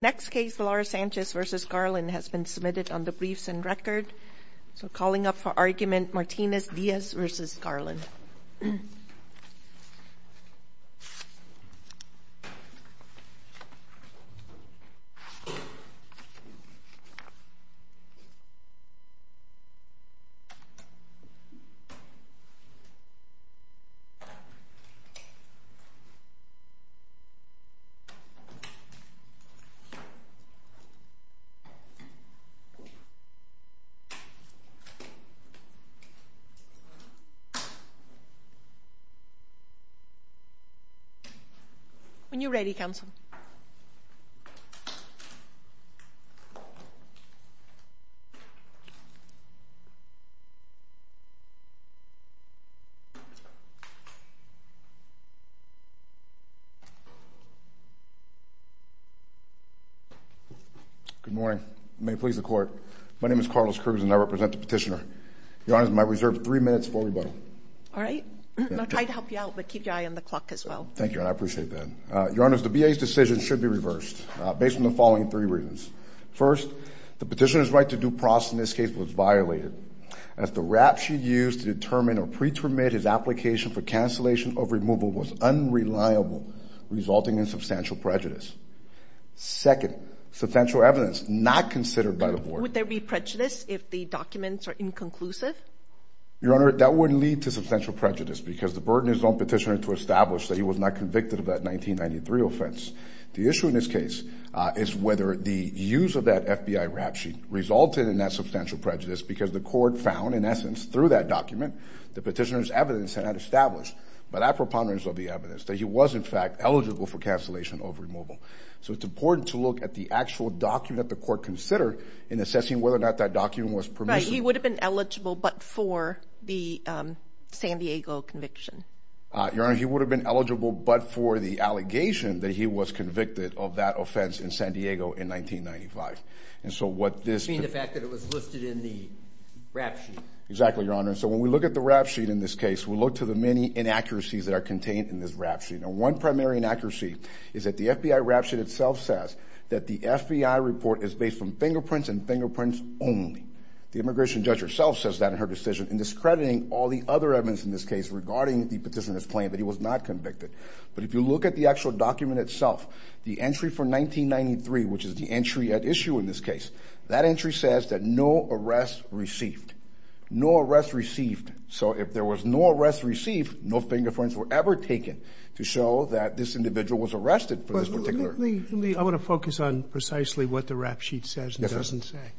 Next case, Laura Sanchez v. Garland has been submitted on the briefs and record, so calling up for argument Martinez Diaz v. Garland When you're ready, counsel. Good morning. May it please the court. My name is Carlos Cruz, and I represent the petitioner. Your Honor, I might reserve three minutes for rebuttal. All right. I'd help you out, but keep your eye on the clock as well. Thank you, and I appreciate that. Your Honor, the B.A.'s decision should be reversed based on the following three reasons. First, the petitioner's right to due process in this case was violated. As the rap she used to determine or pre-terminate his application for cancellation of removal was unreliable, resulting in substantial prejudice. Second, substantial evidence not considered by the board. Would there be prejudice if the documents are inconclusive? Your Honor, that wouldn't lead to substantial prejudice because the burden is on the petitioner to establish that he was not convicted of that 1993 offense. The issue in this case is whether the use of that FBI rap sheet resulted in that substantial prejudice because the court found, in essence, through that document, the petitioner's evidence had not established by that preponderance of the evidence that he was, in fact, eligible for cancellation of removal. So it's important to look at the actual document the court considered in assessing whether or not that document was permissible. Right. He would have been eligible but for the San Diego conviction. Your Honor, he would have been eligible but for the allegation that he was convicted of that offense in San Diego in 1995. You mean the fact that it was listed in the rap sheet? Exactly, Your Honor. So when we look at the rap sheet in this case, we look to the many inaccuracies that are contained in this rap sheet. One primary inaccuracy is that the FBI rap sheet itself says that the FBI report is based on fingerprints and fingerprints only. The immigration judge herself says that in her decision in discrediting all the other evidence in this case regarding the petitioner's claim that he was not convicted. But if you look at the actual document itself, the entry for 1993, which is the entry at issue in this case, that entry says that no arrest received. No arrest received. So if there was no arrest received, no fingerprints were ever taken to show that this individual was arrested for this particular. But let me, I want to focus on precisely what the rap sheet says and doesn't say. Yes,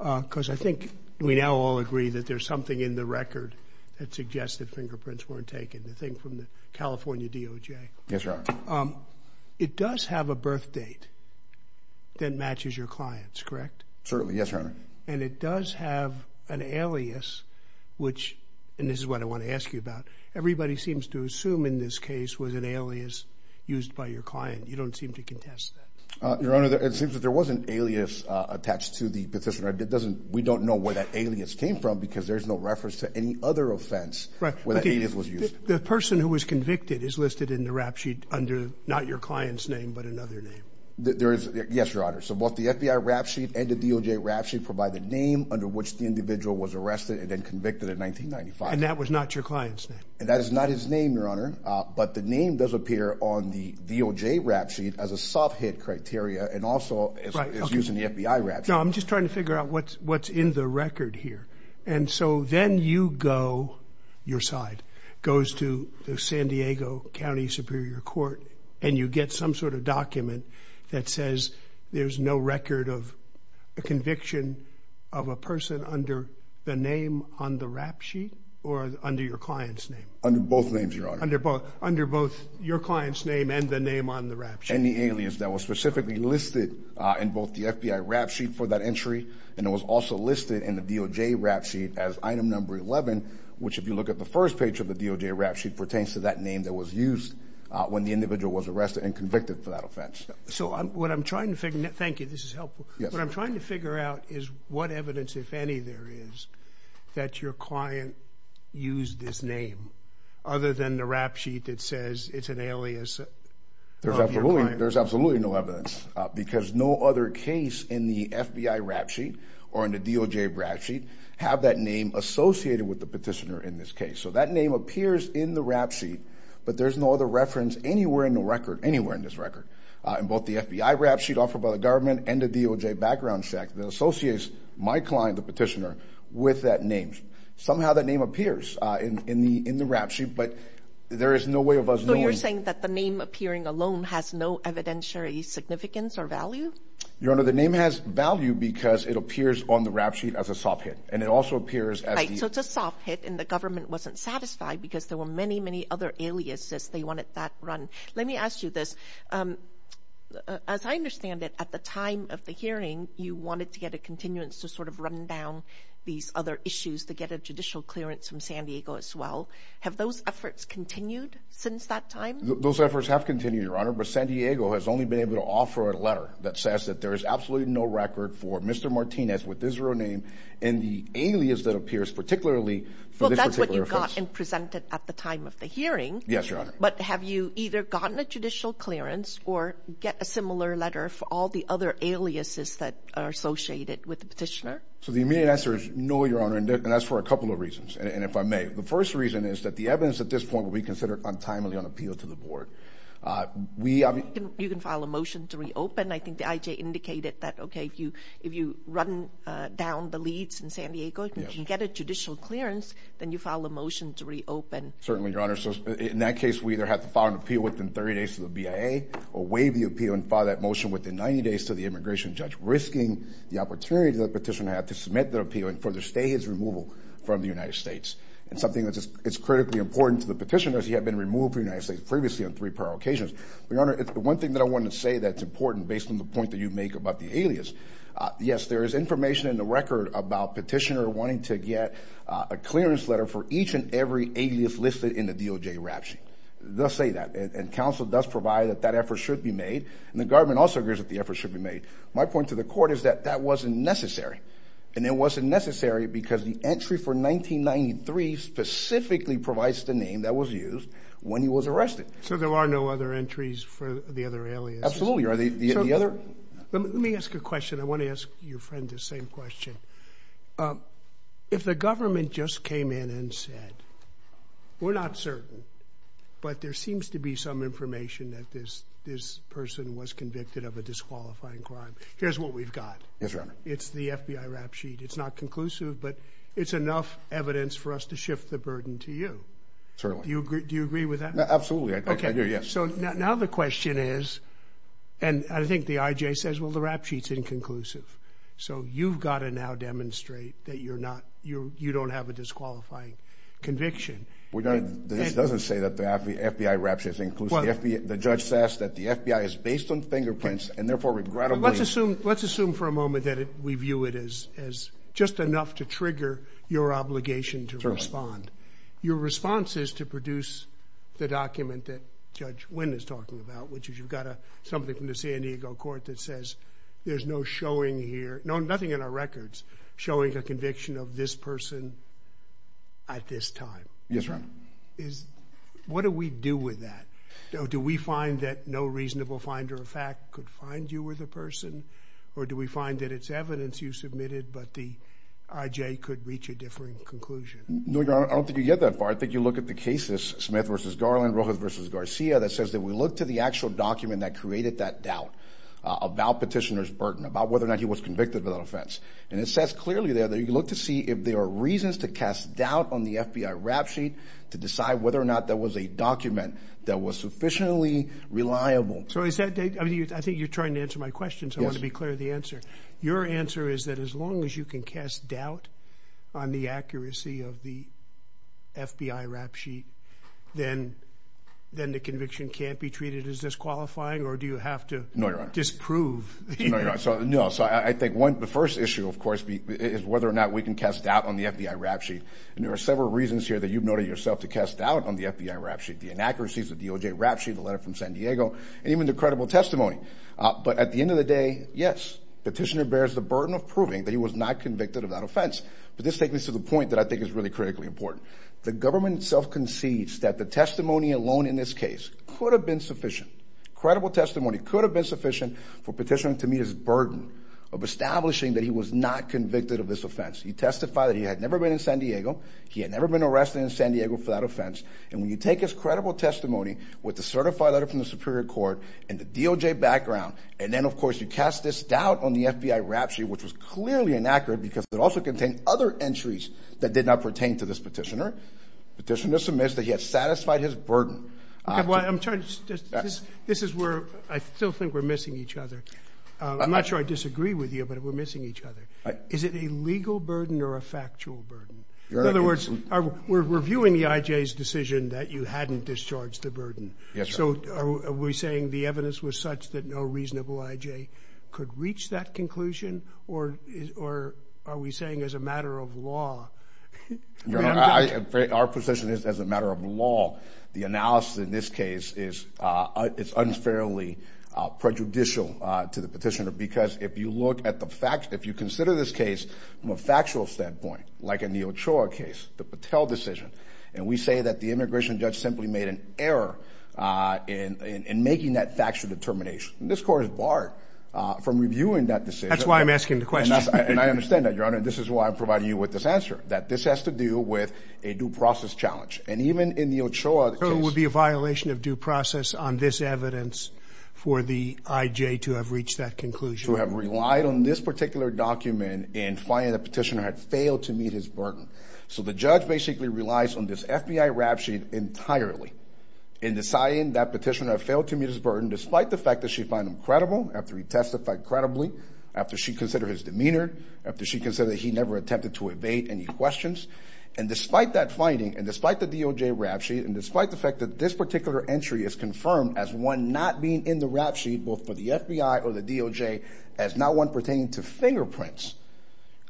Your Honor. Because I think we now all agree that there's something in the record that suggests that fingerprints weren't taken, the thing from the California DOJ. Yes, Your Honor. It does have a birth date that matches your client's, correct? Certainly. Yes, Your Honor. And it does have an alias, which, and this is what I want to ask you about, everybody seems to assume in this case was an alias used by your client. You don't seem to contest that. Your Honor, it seems that there was an alias attached to the petitioner. It doesn't, we don't know where that alias came from because there's no reference to any other offense where that alias was used. The person who was convicted is listed in the rap sheet under not your client's name, but another name. Yes, Your Honor. So both the FBI rap sheet and the DOJ rap sheet provide the name under which the individual was arrested and then convicted in 1995. And that was not your client's name. That is not his name, Your Honor. But the name does appear on the DOJ rap sheet as a soft hit criteria and also is used in the FBI rap sheet. No, I'm just trying to figure out what's in the record here. And so then you go, your side goes to the San Diego County Superior Court and you get some sort of document that says there's no record of a conviction of a person under the name on the rap sheet or under your client's name? Under both names, Your Honor. Under both your client's name and the name on the rap sheet. And the alias that was specifically listed in both the FBI rap sheet for that entry and it was also listed in the DOJ rap sheet as item number 11, which if you look at the first page of the DOJ rap sheet pertains to that name that was used when the individual was arrested and convicted for that offense. So what I'm trying to figure out is what evidence, if any, there is that your client used this name other than the rap sheet that says it's an alias of your client. There's absolutely no evidence because no other case in the FBI rap sheet or in the DOJ rap sheet have that name associated with the petitioner in this case. So that name appears in the rap sheet, but there's no other reference anywhere in the record, anywhere in this record, in both the FBI rap sheet offered by the government and the DOJ background check that associates my client, the petitioner, with that name. Somehow that name appears in the rap sheet, but there is no way of us knowing. So you're saying that the name appearing alone has no evidentiary significance or value? Your Honor, the name has value because it appears on the rap sheet as a soft hit. And it also appears as the... Right, so it's a soft hit and the government wasn't satisfied because there were many, many other aliases they wanted that run. Let me ask you this. As I understand it, at the time of the hearing, you wanted to get a continuance to sort of run down these other issues to get a judicial clearance from San Diego as well. Have those efforts continued since that time? Those efforts have continued, Your Honor, but San Diego has only been able to offer a letter that says that there is absolutely no record for Mr. Martinez with his real name and the alias that appears particularly for this particular offense. Well, that's what you got and presented at the time of the hearing. Yes, Your Honor. But have you either gotten a judicial clearance or get a similar letter for all the other aliases that are associated with the petitioner? So the immediate answer is no, Your Honor, and that's for a couple of reasons, and if I may. The first reason is that the evidence at this point will be considered untimely on appeal to the board. You can file a motion to reopen. I think the IJ indicated that, okay, if you run down the leads in San Diego, if you can get a judicial clearance, then you file a motion to reopen. Certainly, Your Honor. So in that case, we either have to file an appeal within 30 days to the BIA or waive the appeal and file that motion within 90 days to the immigration judge, risking the opportunity that the petitioner had to submit their appeal and further stay his removal from the United States. It's something that's critically important to the petitioner as he had been removed from the United States previously on three prior occasions. Your Honor, the one thing that I wanted to say that's important, based on the point that you make about the alias, yes, there is information in the record about the petitioner wanting to get a clearance letter for each and every alias listed in the DOJ rap sheet. They'll say that, and counsel does provide that that effort should be made, and the government also agrees that the effort should be made. My point to the court is that that wasn't necessary, and it wasn't necessary because the entry for 1993 specifically provides the name that was used when he was arrested. So there are no other entries for the other alias? Absolutely. Let me ask you a question. I want to ask your friend the same question. If the government just came in and said, we're not certain, but there seems to be some information that this person was convicted of a disqualifying crime, here's what we've got. Yes, Your Honor. It's the FBI rap sheet. It's not conclusive, but it's enough evidence for us to shift the burden to you. Certainly. Do you agree with that? Absolutely, I do, yes. So now the question is, and I think the IJ says, well, the rap sheet's inconclusive. So you've got to now demonstrate that you're not, you don't have a disqualifying conviction. This doesn't say that the FBI rap sheet's inconclusive. The judge says that the FBI is based on fingerprints, and therefore, regrettably. Let's assume for a moment that we view it as just enough to trigger your obligation to respond. Your response is to produce the document that Judge Wynn is talking about, which is you've got something from the San Diego court that says there's no showing here, no, nothing in our records, showing a conviction of this person at this time. Yes, Your Honor. What do we do with that? Do we find that no reasonable finder of fact could find you were the person, or do we find that it's evidence you submitted, but the IJ could reach a differing conclusion? No, Your Honor, I don't think you get that far. I think you look at the cases, Smith v. Garland, Rojas v. Garcia, that says that we look to the actual document that created that doubt about Petitioner's burden, about whether or not he was convicted without offense. And it says clearly there that you look to see if there are reasons to cast doubt on the FBI rap sheet to decide whether or not that was a document that was sufficiently reliable. I think you're trying to answer my question, so I want to be clear with the answer. Your answer is that as long as you can cast doubt on the accuracy of the FBI rap sheet, then the conviction can't be treated as disqualifying, or do you have to disprove the evidence? No, Your Honor. So I think the first issue, of course, is whether or not we can cast doubt on the FBI rap sheet. And there are several reasons here that you've noted yourself to cast doubt on the FBI rap sheet, the inaccuracies, the DOJ rap sheet, the letter from San Diego, and even the credible testimony. But at the end of the day, yes, Petitioner bears the burden of proving that he was not convicted without offense. But this takes me to the point that I think is really critically important. The government itself concedes that the testimony alone in this case could have been sufficient. Credible testimony could have been sufficient for Petitioner to meet his burden of establishing that he was not convicted of this offense. He testified that he had never been in San Diego. He had never been arrested in San Diego for that offense. And when you take his credible testimony with the certified letter from the Superior Court and the DOJ background, and then, of course, you cast this doubt on the FBI rap sheet, which was clearly inaccurate because it also contained other entries that did not pertain to this Petitioner, Petitioner submits that he has satisfied his burden. Well, I'm trying to... This is where I still think we're missing each other. I'm not sure I disagree with you, but we're missing each other. Is it a legal burden or a factual burden? In other words, we're viewing the IJ's decision that you hadn't discharged the burden. So are we saying the evidence was such that no reasonable IJ could reach that conclusion, or are we saying as a matter of law... Our position is as a matter of law. The analysis in this case is unfairly prejudicial to the Petitioner because if you look at the facts, if you consider this case from a factual standpoint, like in the Ochoa case, the Patel decision, and we say that the immigration judge simply made an error in making that factual determination, this Court is barred from reviewing that decision. That's why I'm asking the question. And I understand that, Your Honor, and this is why I'm providing you with this answer, that this has to do with a due process challenge. And even in the Ochoa case... Or it would be a violation of due process on this evidence for the IJ to have reached that conclusion. To have relied on this particular document in finding the Petitioner had failed to meet his burden. So the judge basically relies on this FBI rap sheet entirely in deciding that Petitioner had failed to meet his burden despite the fact that she found him credible after he testified credibly, after she considered his demeanor, after she considered he never attempted to evade any questions. And despite that finding, and despite the DOJ rap sheet, and despite the fact that this particular entry is confirmed as one not being in the rap sheet, both for the FBI or the DOJ, as not one pertaining to fingerprints,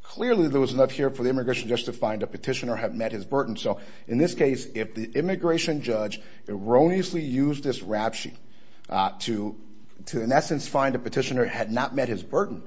clearly there was enough here for the immigration judge to find that Petitioner had met his burden. So in this case, if the immigration judge erroneously used this rap sheet to, in essence, find that Petitioner had not met his burden,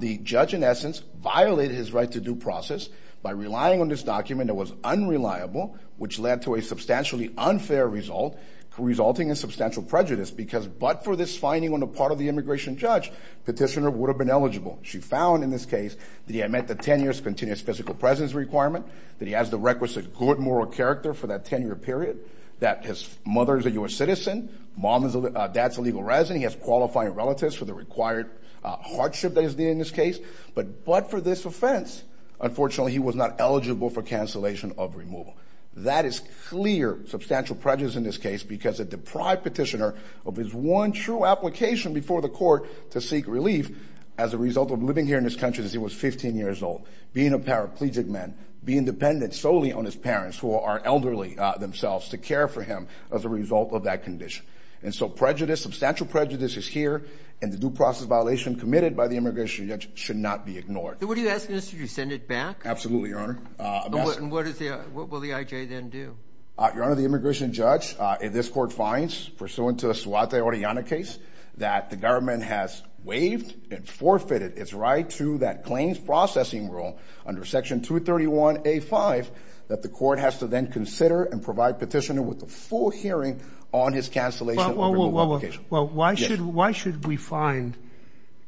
the judge, in essence, violated his right to due process by relying on this document that was unreliable, which led to a substantially unfair result resulting in substantial prejudice, because but for this finding on the part of the immigration judge, Petitioner would have been eligible. She found in this case that he had met the 10 years continuous physical presence requirement, that he has the requisite good moral character for that 10-year period, that his mother is a U.S. citizen, mom and dad's a legal resident, he has qualifying relatives for the required hardship that is needed in this case, but for this offense, unfortunately, he was not eligible for cancellation of removal. That is clear substantial prejudice in this case because it deprived Petitioner of his one true application before the court to seek relief as a result of living here in this country as he was 15 years old, being a paraplegic man, being dependent solely on his parents, who are elderly themselves, to care for him as a result of that condition. And so prejudice, substantial prejudice is here, and the due process violation committed by the immigration judge should not be ignored. So what are you asking us to do, send it back? Absolutely, Your Honor. And what will the I.J. then do? Your Honor, the immigration judge in this court finds, pursuant to the Suaté-Orellana case, that the government has waived and forfeited its right to that claims processing rule under Section 231A.5 that the court has to then consider and provide Petitioner with a full hearing on his cancellation of removal application. Well, why should we find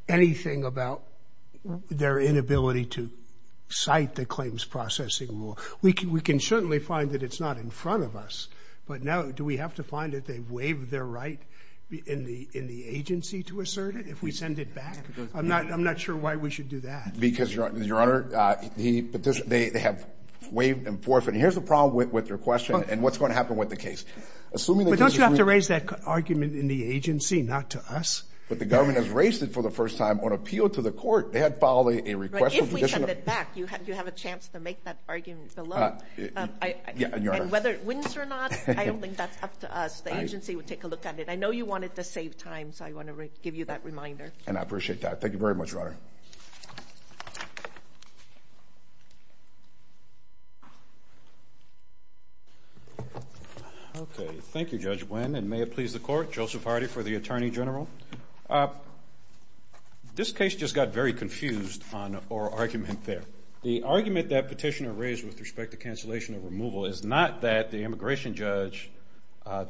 anything about their inability to cite the claims processing rule? We can certainly find that it's not in front of us, but do we have to find that they've waived their right in the agency to assert it if we send it back? I'm not sure why we should do that. Because, Your Honor, they have waived and forfeited. Here's the problem with your question and what's going to happen with the case. But don't you have to raise that argument in the agency, not to us? But the government has raised it for the first time on appeal to the court. If we send it back, you have a chance to make that argument below. And whether it wins or not, I don't think that's up to us. The agency would take a look at it. I know you wanted to save time, so I want to give you that reminder. And I appreciate that. Thank you very much, Your Honor. Thank you, Judge Wynn. And may it please the court, Joseph Hardy for the Attorney General. This case just got very confused on oral argument there. The argument that petitioner raised with respect to cancellation of removal is not that the immigration judge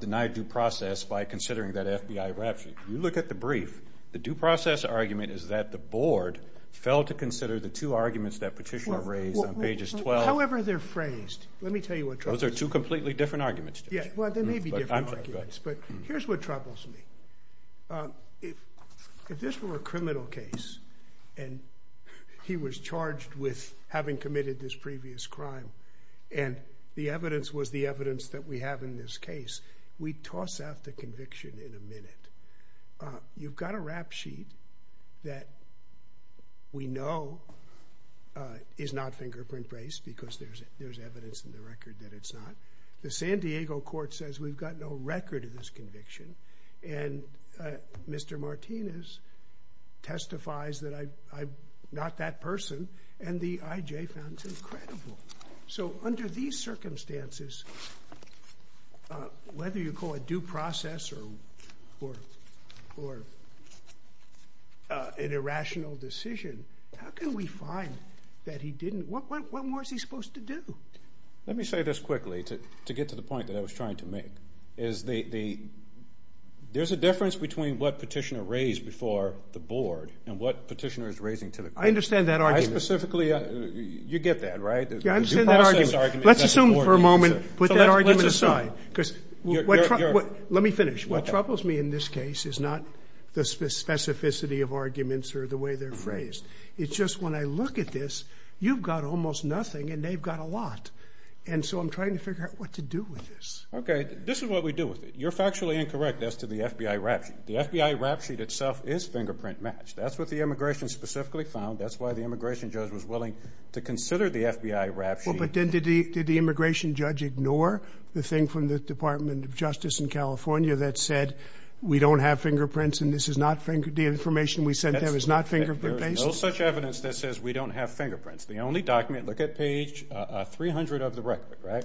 denied due process by considering that FBI rapture. If you look at the brief, the due process argument is that the board failed to consider the two arguments that petitioner raised on pages 12... However they're phrased, let me tell you what... Those are two completely different arguments, Judge. They may be different arguments, but here's what troubles me. If this were a criminal case, and he was charged with having committed this previous crime, and the evidence was the evidence that we have in this case, we toss out the conviction in a minute. You've got a rap sheet that we know is not fingerprint-based, because there's evidence in the record that it's not. The San Diego Court says we've got no record of this conviction, and Mr. Martinez testifies that I'm not that person, and the IJ found it incredible. Under these circumstances, whether you call it due process or an irrational decision, how can we find that he didn't... What more is he supposed to do? Let me say this quickly to get to the point that I was trying to make. There's a difference between what petitioner raised before the board and what petitioner is raising to the court. I understand that argument. I specifically... You get that, right? Let's assume for a moment... Put that argument aside. Let me finish. What troubles me in this case is not the specificity of arguments or the way they're phrased. It's just when I look at this, you've got almost nothing, and they've got a lot. And so I'm trying to figure out what to do with this. This is what we do with it. You're factually incorrect as to the FBI rap sheet. The FBI rap sheet itself is fingerprint matched. That's what the immigration specifically found. That's why the immigration judge was willing to consider the FBI rap sheet. Did the immigration judge ignore the thing from the Department of Justice in California that said we don't have fingerprints, and this is not... The information we sent them is not fingerprint based? There's no such evidence that says we don't have fingerprints. The only document... Look at page 300 of the record, right?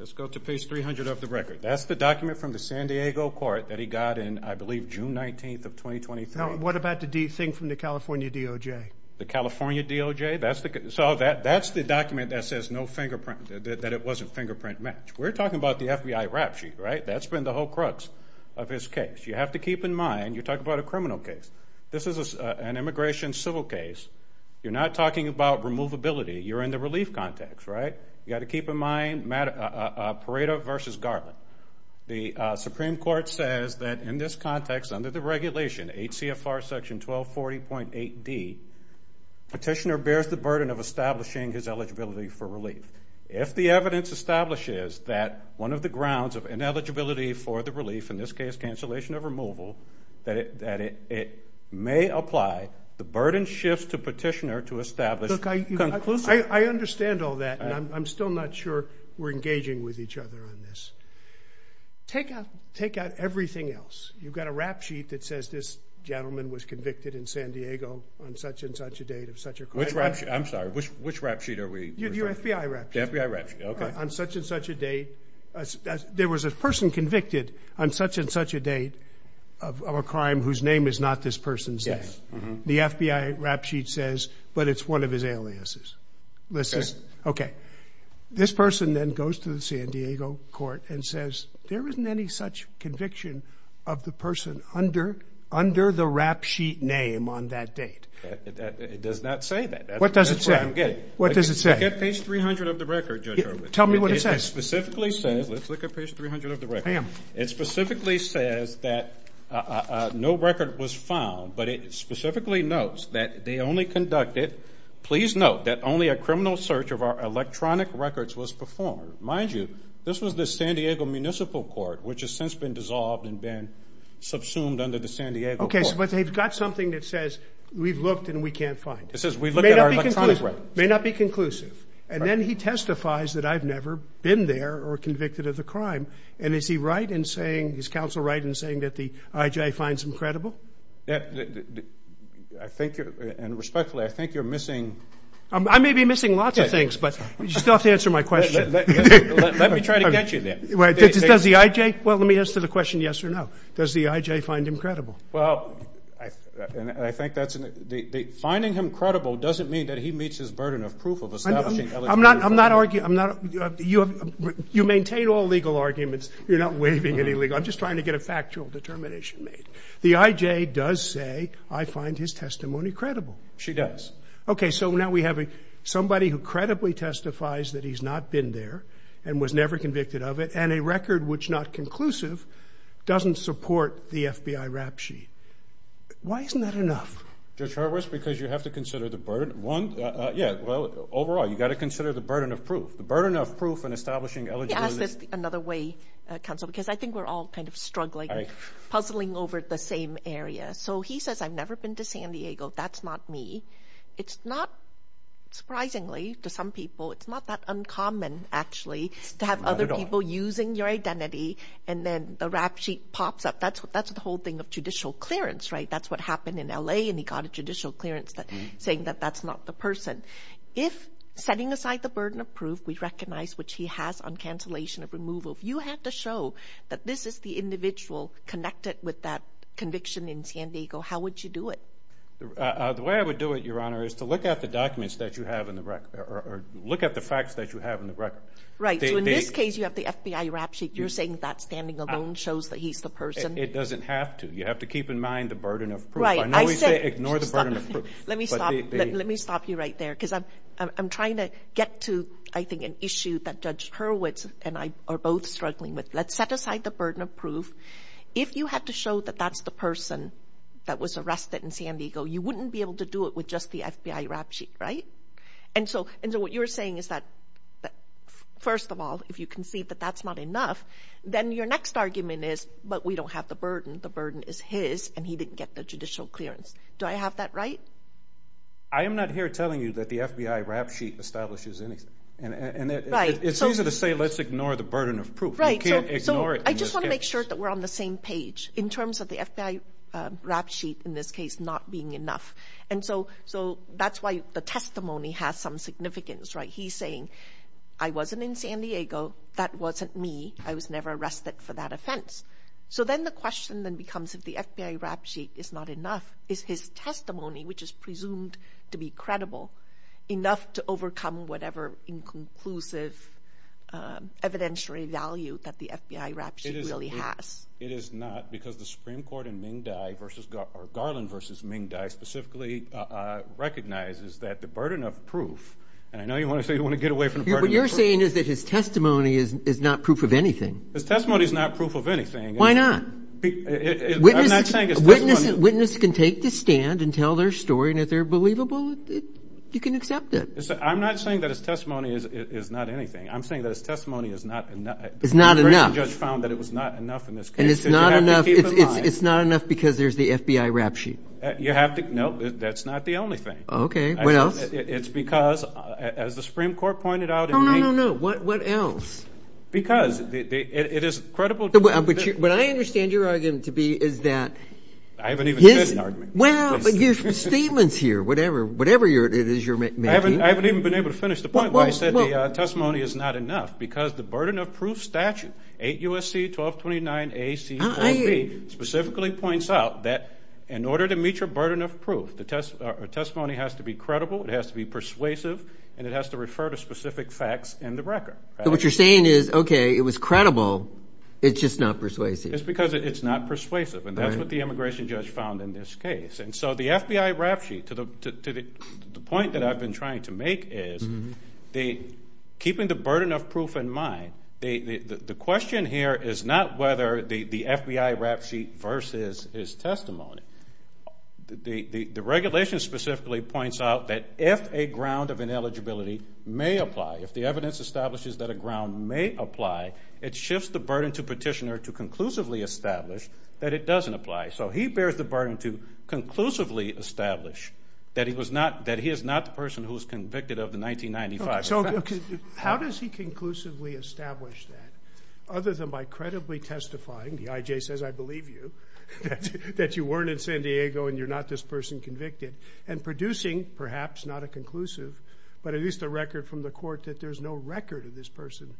Let's go to page 300 of the record. That's the document from the San Diego court that he got in, I believe, June 19th of 2023. Now, what about the thing from the California DOJ? The California DOJ? That's the... That's the document that says no fingerprint... That it wasn't fingerprint matched. We're talking about the FBI rap sheet, right? That's been the whole crux of his case. You have to keep in mind... You're talking about a criminal case. This is an immigration civil case. You're not talking about removability. You're in the relief context, right? You've got to keep in mind Pareto versus Garland. The Supreme Court says that in this context, under the regulation, 8 CFR section 1240.8 D, petitioner bears the burden of establishing his eligibility for relief. If the evidence establishes that one of the grounds of ineligibility for the relief, in this case cancellation of removal, that it may apply, the burden shifts to petitioner to establish conclusive... Look, I understand all that, and I'm still not sure we're engaging with each other on this. Take out everything else. You've got a rap sheet that says this gentleman was convicted in San Diego on such and such a date of such a crime. Which rap sheet? I'm sorry. Which rap sheet are we referring to? The FBI rap sheet. The FBI rap sheet. Okay. On such and such a date there was a person convicted on such and such a date of a crime whose name is not this person's name. Yes. The FBI rap sheet says, but it's one of his aliases. Okay. This person then goes to the San Diego court and says there isn't any such conviction of the person under the rap sheet name on that date. It does not say that. What does it say? I don't get it. Look at page 300 of the record, Judge Irwin. Tell me what it says. It specifically says look at page 300 of the record. I am. It specifically says that no record was found, but it specifically notes that they only conducted, please note that only a criminal search of our electronic records was performed. Mind you, this was the San Diego Municipal Court, which has since been dissolved and been subsumed under the San Diego Court. Okay, but they've got something that says we've looked and we can't find it. It may not be conclusive. And then he testifies that I've never been there or convicted of the crime. And is he right in saying, is counsel right in saying that the IJ finds him credible? I think, and respectfully, I think you're missing... I may be missing lots of things, but you still have to answer my question. Let me try to get you there. Well, let me answer the question yes or no. Does the IJ find him credible? Well, I think that's... Finding him credible doesn't mean that he meets his burden of proof of establishing... I'm not arguing... You maintain all legal arguments. You're not waiving any legal... I'm just trying to get a factual determination made. The IJ does say I find his testimony credible. She does. Okay, so now we have somebody who credibly testifies that he's not been there and was never convicted of it, and a record which is not conclusive doesn't support the FBI rap sheet. Why isn't that enough? Judge Horwitz, because you have to consider the burden... Overall, you've got to consider the burden of proof. The burden of proof in establishing eligibility... Let me ask this another way, counsel, because I think we're all kind of struggling, puzzling over the same area. He says, I've never been to San Diego. That's not me. It's not... Surprisingly, to some people, it's not that uncommon, actually, to have other people using your identity and then the rap sheet pops up. That's the whole thing of judicial clearance, right? That's what happened in L.A., and he got a judicial clearance saying that that's not the person. If setting aside the burden of proof, we recognize which he has on cancellation of removal, if you had to show that this is the individual connected with that conviction in San Diego, how would you do it? The way I would do it, Your Honor, is to look at the documents that you have in the record, or look at the facts that you have in the record. In this case, you have the FBI rap sheet. You're saying that standing alone shows that he's the person. It doesn't have to. You have to keep in mind the burden of proof. Right. I know you say ignore the burden of proof. Let me stop you right there, because I'm trying to get to, I think, an issue that Judge Hurwitz and I are both struggling with. Let's set aside the burden of proof. If you had to show that that's the person that was arrested in San Diego, you wouldn't be able to do it with just the FBI rap sheet, right? And so what you're saying is that first of all, if you concede that that's not enough, then your next argument is, but we don't have the burden. The burden is his, and he didn't get the judicial clearance. Do I have that right? I am not here telling you that the FBI rap sheet establishes anything. It's easier to say, let's ignore the burden of proof. You can't ignore it. I just want to make sure that we're on the same page in terms of the FBI rap sheet in this case not being enough. And so that's why the testimony has some significance, right? He's saying, I wasn't in San Diego. That wasn't me. I was never arrested for that offense. So then the question then becomes if the FBI rap sheet is not enough, is his testimony, which is presumed to be credible, enough to overcome whatever inconclusive evidentiary value that the FBI rap sheet really has? It is not, because the Supreme Court in Garland v. Ming Dai specifically recognizes that the burden of proof, and I know you want to say you want to get away from the burden of proof. What you're saying is that his testimony is not proof of anything. His testimony is not proof of anything. Why not? I'm not saying his testimony... A witness can take the stand and tell their story, and if they're believable, you can accept it. I'm not saying that his testimony is not anything. I'm saying that his testimony is not enough. It's not enough. The Supreme Court judge found that it was not enough in this case. And it's not enough because there's the FBI rap sheet. You have to, no, that's not the only thing. Okay, what else? It's because, as the Supreme Court pointed out... Oh, no, no, no. What else? Because it is credible... What I understand your argument to be is that I haven't even finished the argument. Well, but your statement's here, whatever it is you're making. I haven't even been able to finish the point where you said the testimony is not enough because the burden of proof statute, 8 U.S.C. 1229 A.C. 4B, specifically points out that in order to meet your burden of proof, a testimony has to be credible, it has to be persuasive, and it has to refer to specific facts in the record. What you're saying is, okay, it was credible, it's just not persuasive. It's because it's not persuasive, and that's what the immigration judge found in this case. And so the FBI rap sheet, the point that I've been trying to make is keeping the burden of proof in mind, the question here is not whether the FBI rap sheet versus his testimony. The regulation specifically points out that if a ground of ineligibility may apply, if the evidence establishes that a ground may apply, it shifts the burden to petitioner to conclusively establish that it doesn't apply. So he bears the burden to conclusively establish that he is not the person who was convicted of the 1995 offense. How does he conclusively establish that, other than by credibly testifying, the I.J. says I believe you, that you weren't in San Diego and you're not this person convicted? And producing, perhaps not a conclusive, but at least a record from the court that there's no record of this person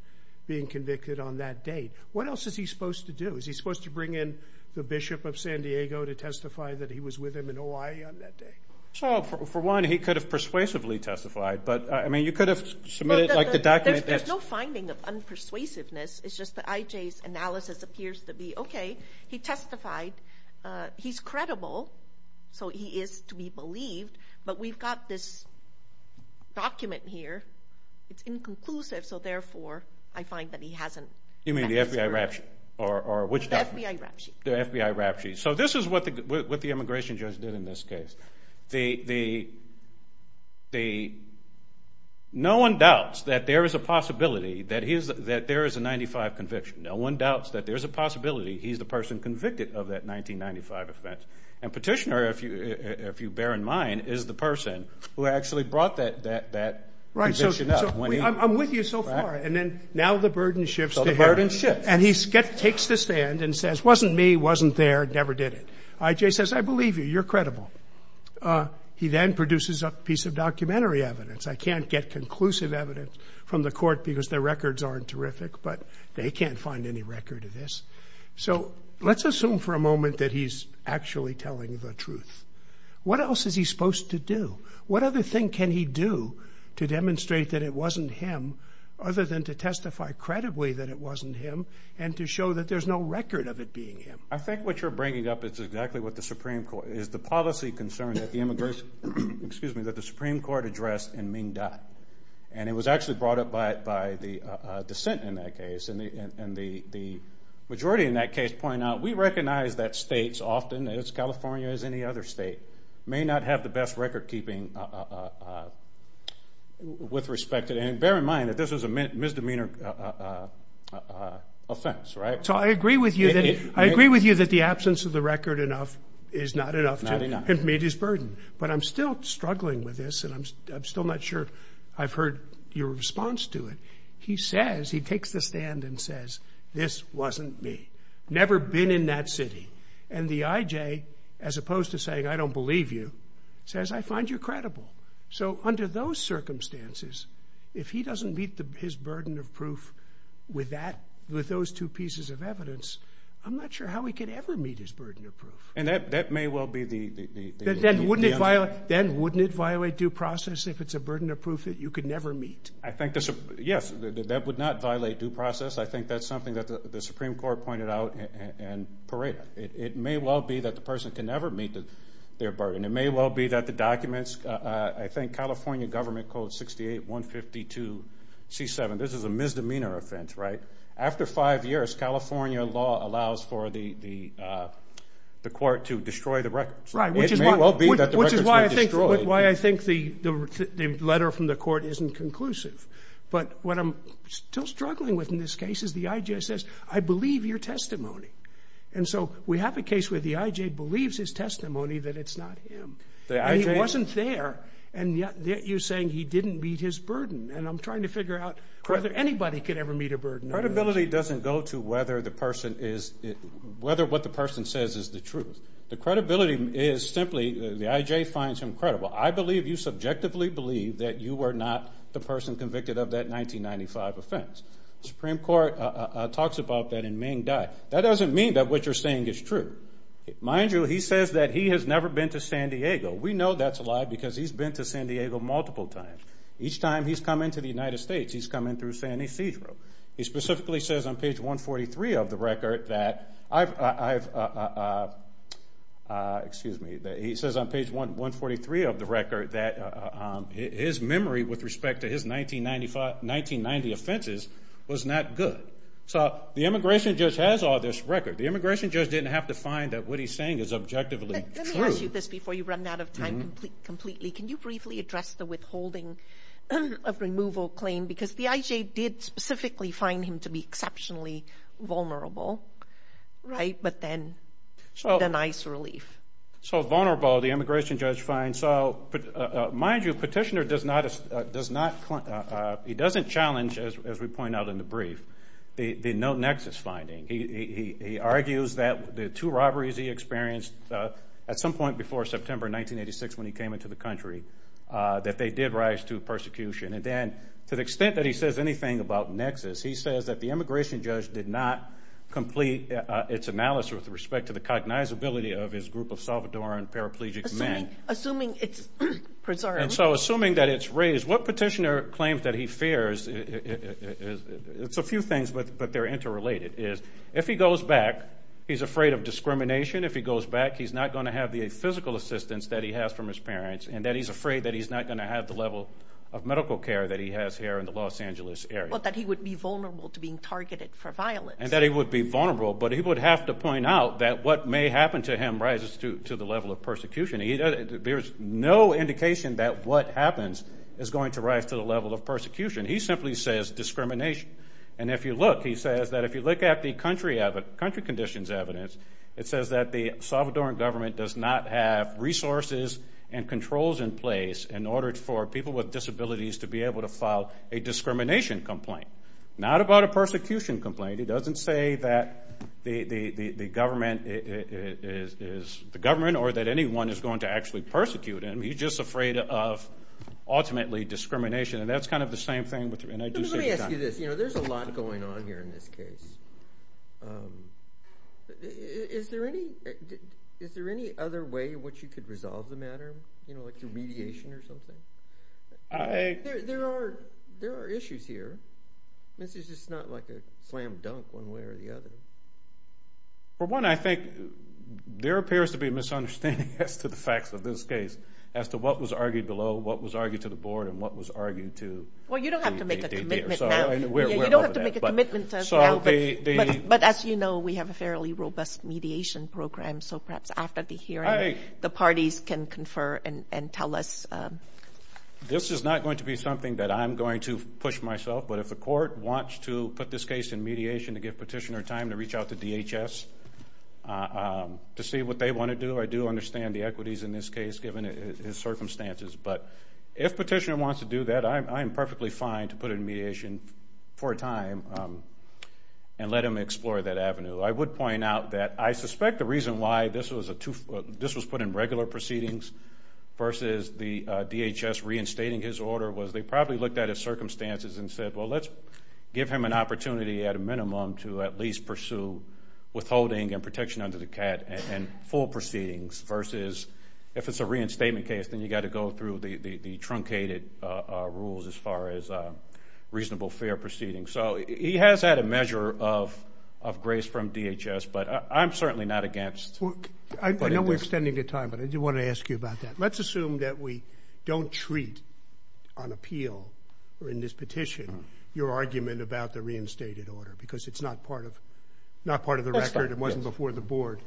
being convicted on that date. What else is he supposed to do? Is he supposed to bring in the Bishop of San Diego to testify that he was with him in Hawaii on that day? So, for one, he could have persuasively testified, but I mean, you could have submitted, like, the document There's no finding of unpersuasiveness, it's just that I.J.'s analysis appears to be, okay, he testified, he's credible, so he is to be believed, but we've got this document here, it's inconclusive, so therefore I find that he hasn't You mean the FBI rap sheet? The FBI rap sheet. So this is what the immigration judge did in this case. No one doubts that there is a possibility that there is a 1995 conviction. No one doubts that there's a possibility he's the person convicted of that 1995 offense. And Petitioner, if you bear in mind, is the person who actually brought that conviction up. I'm with you so far, and then now the burden shifts to him. And he takes the stand and says wasn't me, wasn't there, never did it. I.J. says, I believe you, you're credible. He then produces a piece of documentary evidence. I can't get conclusive evidence from the Supreme Court because their records aren't terrific, but they can't find any record of this. So let's assume for a moment that he's actually telling the truth. What else is he supposed to do? What other thing can he do to demonstrate that it wasn't him, other than to testify credibly that it wasn't him, and to show that there's no record of it being him? I think what you're bringing up is exactly what the Supreme Court, is the policy concern that the Supreme Court addressed in Ming Dai. And it was actually brought up by the dissent in that case. And the majority in that case point out, we recognize that states often, as California as any other state, may not have the best record keeping with respect to and bear in mind that this is a misdemeanor offense, right? So I agree with you that the absence of the record enough is not enough to meet his burden. But I'm still struggling with this, and I'm still not sure I've heard your response to it. He says, he takes the stand and says, this wasn't me. Never been in that city. And the IJ, as opposed to saying, I don't believe you, says, I find you credible. So, under those circumstances, if he doesn't meet his burden of proof with that, with those two pieces of evidence, I'm not sure how he could ever meet his burden of proof. And that may well be the... Then wouldn't it violate due process if it's a burden of proof that you could never meet? Yes, that would not violate due process. I think that's something that the Supreme Court pointed out and paraded. It may well be that the person can never meet their burden. It may well be that the documents, I think California government code 68-152 C-7, this is a misdemeanor offense, right? After five years, California law allows for the court to destroy the records. Which is why I think the letter from the court isn't conclusive. But, what I'm still struggling with in this case is the IJ says, I believe your testimony. And so, we have a case where the IJ believes his testimony that it's not him. And he wasn't there, and yet you're saying he didn't meet his burden. And I'm trying to figure out whether anybody could ever meet a burden. Credibility doesn't go to whether the person is... whether what the person says is the truth. The credibility is simply, the IJ finds him credible. I believe you subjectively believe that you were not the person convicted of that 1995 offense. The Supreme Court talks about that in Ming Dai. That doesn't mean that what you're saying is true. Mind you, he says that he has never been to San Diego. We know that's a lie because he's been to San Diego multiple times. Each time he's come into the United States, he's come in through San Ysidro. He specifically says on page 143 of the record that... Excuse me. He says on page 143 of the record that his memory with respect to his 1995, 1990 offenses was not good. So the immigration judge has all this record. The immigration judge didn't have to find that what he's saying is objectively true. Let me ask you this before you run out of time completely. Can you briefly address the withholding of removal claim? Because the IJ did specifically find him to be exceptionally vulnerable. But then... So vulnerable, the immigration judge finds... Mind you, Petitioner does not challenge, as we point out in the brief, the no nexus finding. He argues that the two robberies he experienced at some point before September 1986 when he came into the country, that they did rise to persecution. And then to the extent that he says anything about nexus, he says that the immigration judge did not complete its analysis with respect to the cognizability of his group of Salvadoran paraplegic men. Assuming it's preserved. And so assuming that it's raised, what Petitioner claims that he fears, it's a few things, but they're interrelated, is if he goes back, he's afraid of discrimination. If he goes back, he's not going to have the physical assistance that he has from his parents, and that he's afraid that he's not going to have the level of medical care that he has here in the Los Angeles area. Well, that he would be vulnerable to being targeted for violence. And that he would be vulnerable, but he would have to point out that what may happen to him rises to the level of persecution. There's no indication that what happens is going to rise to the level of persecution. He simply says discrimination. And if you look, he says that if you look at the country conditions evidence, it says that the Salvadoran government does not have resources and controls in place in order for people with disabilities to be able to file a discrimination complaint. Not about a persecution complaint. He doesn't say that the government is the government, or that anyone is going to actually persecute him. He's just afraid of, ultimately, discrimination. And that's kind of the same thing with... Let me ask you this. There's a lot going on here in this case. Is there any other way in which you could resolve the matter? You know, like through mediation or something? There are issues here. This is just not like a slam dunk one way or the other. For one, I think there appears to be a misunderstanding as to the facts of this case. As to what was argued below, what was argued to the board, and what was argued to... Well, you don't have to make a commitment now. You don't have to make a commitment now. But as you know, we have a fairly robust mediation program. So perhaps after the hearing, the parties can confer and tell us... This is not going to be something that I'm going to push myself. But if the court wants to put this case in mediation to give petitioner time to reach out to DHS to see what they want to do, I do understand the equities in this case, given his circumstances. But if petitioner wants to do that, I'm perfectly fine to put it in mediation for a time and let him explore that avenue. I would point out that I suspect the reason why this was put in regular proceedings versus the DHS reinstating his order was they probably looked at his circumstances and said, well, let's give him an opportunity at a minimum to at least pursue withholding and protection under the CAT and full proceedings versus if it's a reinstatement case, then you've got to go through the truncated rules as far as reasonable fair proceedings. So he has had a measure of grace from DHS, but I'm certainly not against putting this... I know we're extending your time, but I do want to ask you about that. Let's assume that we don't treat on appeal in this petition your argument about the reinstated order, because it's not part of the record. It wasn't before the board.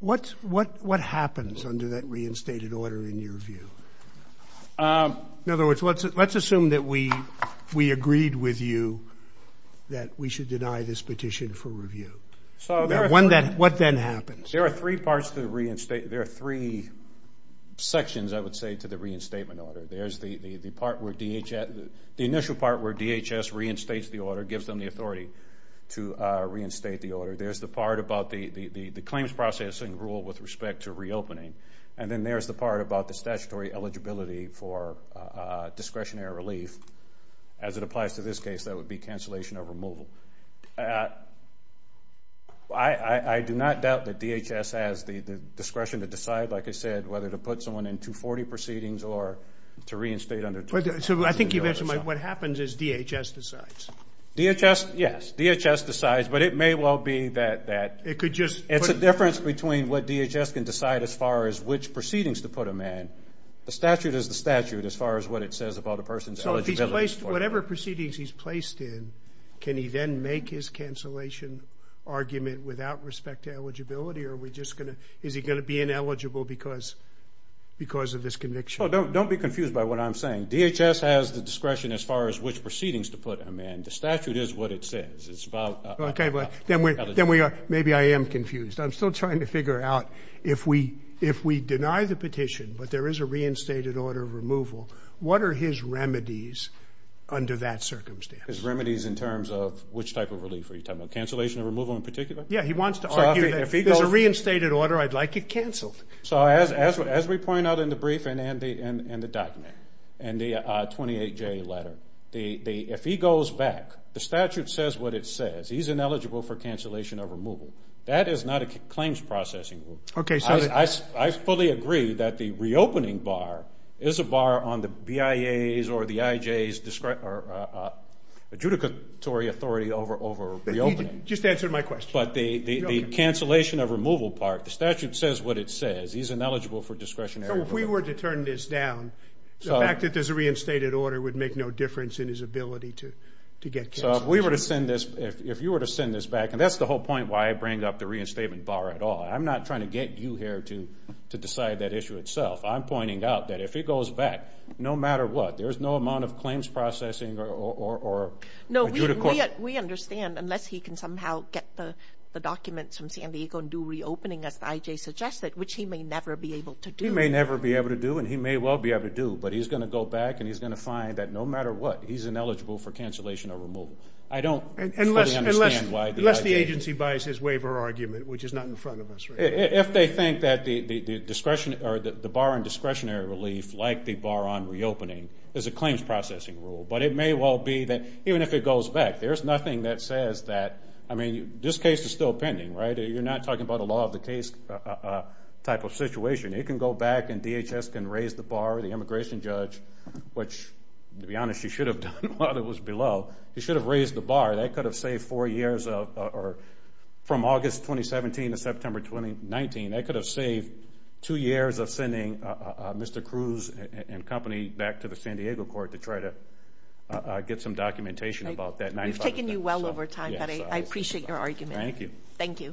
What happens under that reinstated order in your view? In other words, let's assume that we agreed with you that we should deny this petition for review. What then happens? There are three parts to the reinstate... There are three sections, I would say, to the reinstatement order. There's the part where DHS... The initial part where DHS reinstates the order, gives them the authority to reinstate the order. There's the part about the claims processing rule with respect to reopening. And then there's the part about the statutory eligibility for discretionary relief. As it applies to this case, that would be cancellation of removal. I do not doubt that DHS has the discretion to decide, like I said, whether to put someone in 240 proceedings or to reinstate under 240. What happens is DHS decides. DHS? Yes. DHS decides, but it may well be that it's a difference between what DHS can decide as far as which proceedings to put them in. The statute is the statute as far as what it says about a person's eligibility. Whatever proceedings he's placed in, can he then make his cancellation argument without respect to eligibility? Is he going to be ineligible because of this conviction? Don't be confused by what I'm saying. DHS has the discretion as far as which proceedings to put them in. The statute is what it says. It's about... Maybe I am confused. I'm still trying to figure out if we deny the petition, but there is a reinstated order of removal, what are his remedies under that circumstance? His remedies in terms of which type of relief are you talking about? Cancellation of removal in particular? Yeah, he wants to argue that if there's a reinstated order, I'd like it cancelled. So as we point out in the brief and the document, and the 28J letter, if he goes back, the statute says what it says. He's ineligible for cancellation of removal. That is not a claims processing rule. I fully agree that the reopening bar is a bar on the BIA's or the IJ's adjudicatory authority over reopening. Just answer my question. But the cancellation of removal part, the statute says what it says. He's ineligible for discretionary removal. So if we were to turn this down, the fact that there's a reinstated order would make no difference in his ability to get cancellation. So if we were to send this, if you were to send this back, and that's the whole point why I bring up the reinstatement bar at all. I'm not trying to get you here to decide that issue itself. I'm pointing out that if he goes back, no matter what, there's no amount of claims processing or adjudicatory. We understand, unless he can somehow get the documents from San Diego and do reopening as the IJ suggested, which he may never be able to do. He may never be able to do, and he may well be able to do, but he's going to go back and he's going to find that no matter what, he's ineligible for cancellation of removal. I don't fully understand why the IJ... Unless the agency buys his waiver argument, which is not in front of us right now. If they think that the discretionary or the bar on discretionary relief like the bar on reopening is a claims processing rule, but it may well be that even if it goes back, there's nothing that says that, I mean, this case is still pending, right? You're not talking about a law of the case type of situation. He can go back and DHS can raise the bar, the immigration judge, which to be honest he should have done while it was below. He should have raised the bar. That could have saved four years of... From August 2017 to September 2019, that could have saved two years of sending Mr. Cruz and company back to the San Diego court to try to get some documentation about that. We've taken you well over time. I appreciate your argument. Thank you.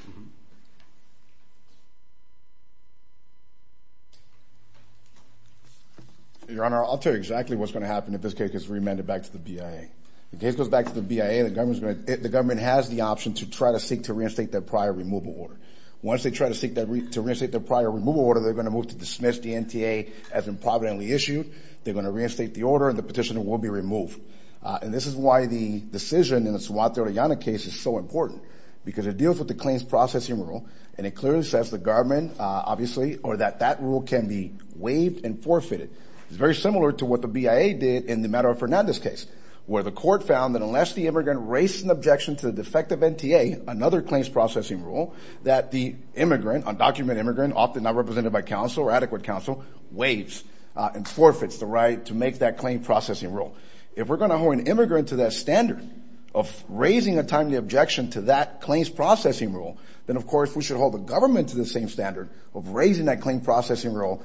Your Honor, I'll tell you exactly what's going to happen if this case is remanded back to the BIA. If the case goes back to the BIA, the government has the option to try to seek to reinstate their prior removal order. Once they try to seek to reinstate their prior removal order, they're going to move to dismiss the NTA as improvidently issued, they're going to reinstate the order, and the petitioner will be removed. And this is why the decision in the Suato-Uriana case is so important because it deals with the claims processing rule, and it clearly says the government obviously, or that that rule can be waived and forfeited. It's very similar to what the BIA did in the Madera-Fernandez case, where the court found that unless the immigrant raised an objection to the defective NTA, another claims processing rule, that the immigrant, undocumented immigrant, often not represented by counsel or adequate counsel, waives and forfeits the right to make that claim processing rule. If we're going to hold an immigrant to that standard of raising a timely objection to that claims processing rule, then of course we should hold the government to the same standard of raising that claim processing rule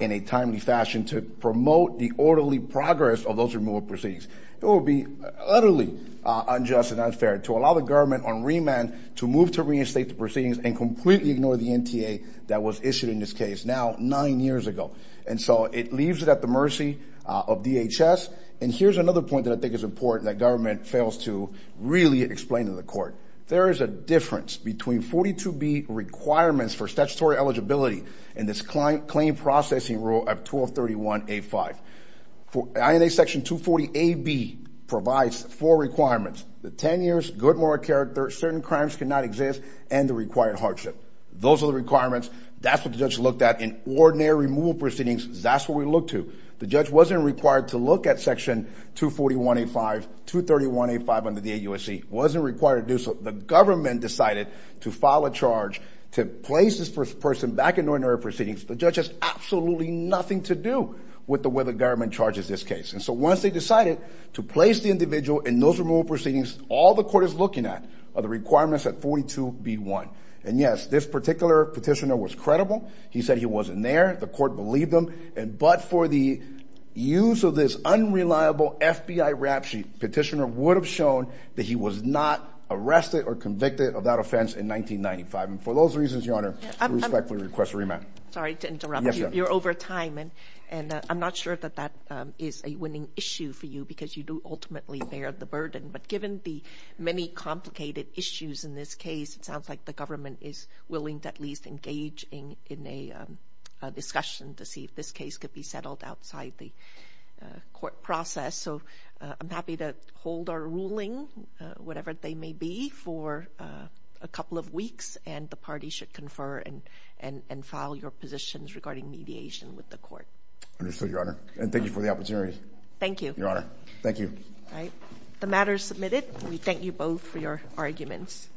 in a timely fashion to promote the orderly progress of those removal proceedings. It would be utterly unjust and unfair to allow the government on remand to move to reinstate the proceedings and completely ignore the NTA that was issued in this case, now nine years ago. And so it leaves it at the mercy of DHS, and here's another point that I think is important that government fails to really explain to the court. There is a difference between 42B requirements for statutory eligibility and this claim processing rule of 1231A5. INA section 240AB provides four requirements. The 10 years good moral character, certain crimes cannot exist, and the required hardship. Those are the requirements. That's what the judge looked at in ordinary removal proceedings. That's what we looked to. The judge wasn't required to look at section 241A5, 231A5 under the AUSC. Wasn't required to do so. The government decided to file a charge to place this person back in ordinary proceedings. The judge has absolutely nothing to do with the way the government charges this case. And so once they decided to place the individual in those removal proceedings, all the court is looking at are the requirements at 42B1. And yes, this particular petitioner was credible. He said he wasn't there. The court believed him. But for the use of this unreliable FBI rap sheet, petitioner would have shown that he was not arrested or convicted of that offense in 1995. And for those reasons, Your Honor, I respectfully request a remand. Sorry to interrupt. You're over time, and I'm not sure that that is a winning issue for you because you do ultimately bear the burden. But given the many complicated issues in this case, it sounds like the government is willing to at least engage in a discussion to see if this case could be settled outside the court process. So I'm happy to hold our ruling, whatever they may be, for a couple of weeks, and the party should confer and file your positions regarding mediation with the court. Understood, Your Honor. And thank you for the opportunity. Thank you. Your Honor. Thank you. The matter is submitted. We thank you both for your arguments.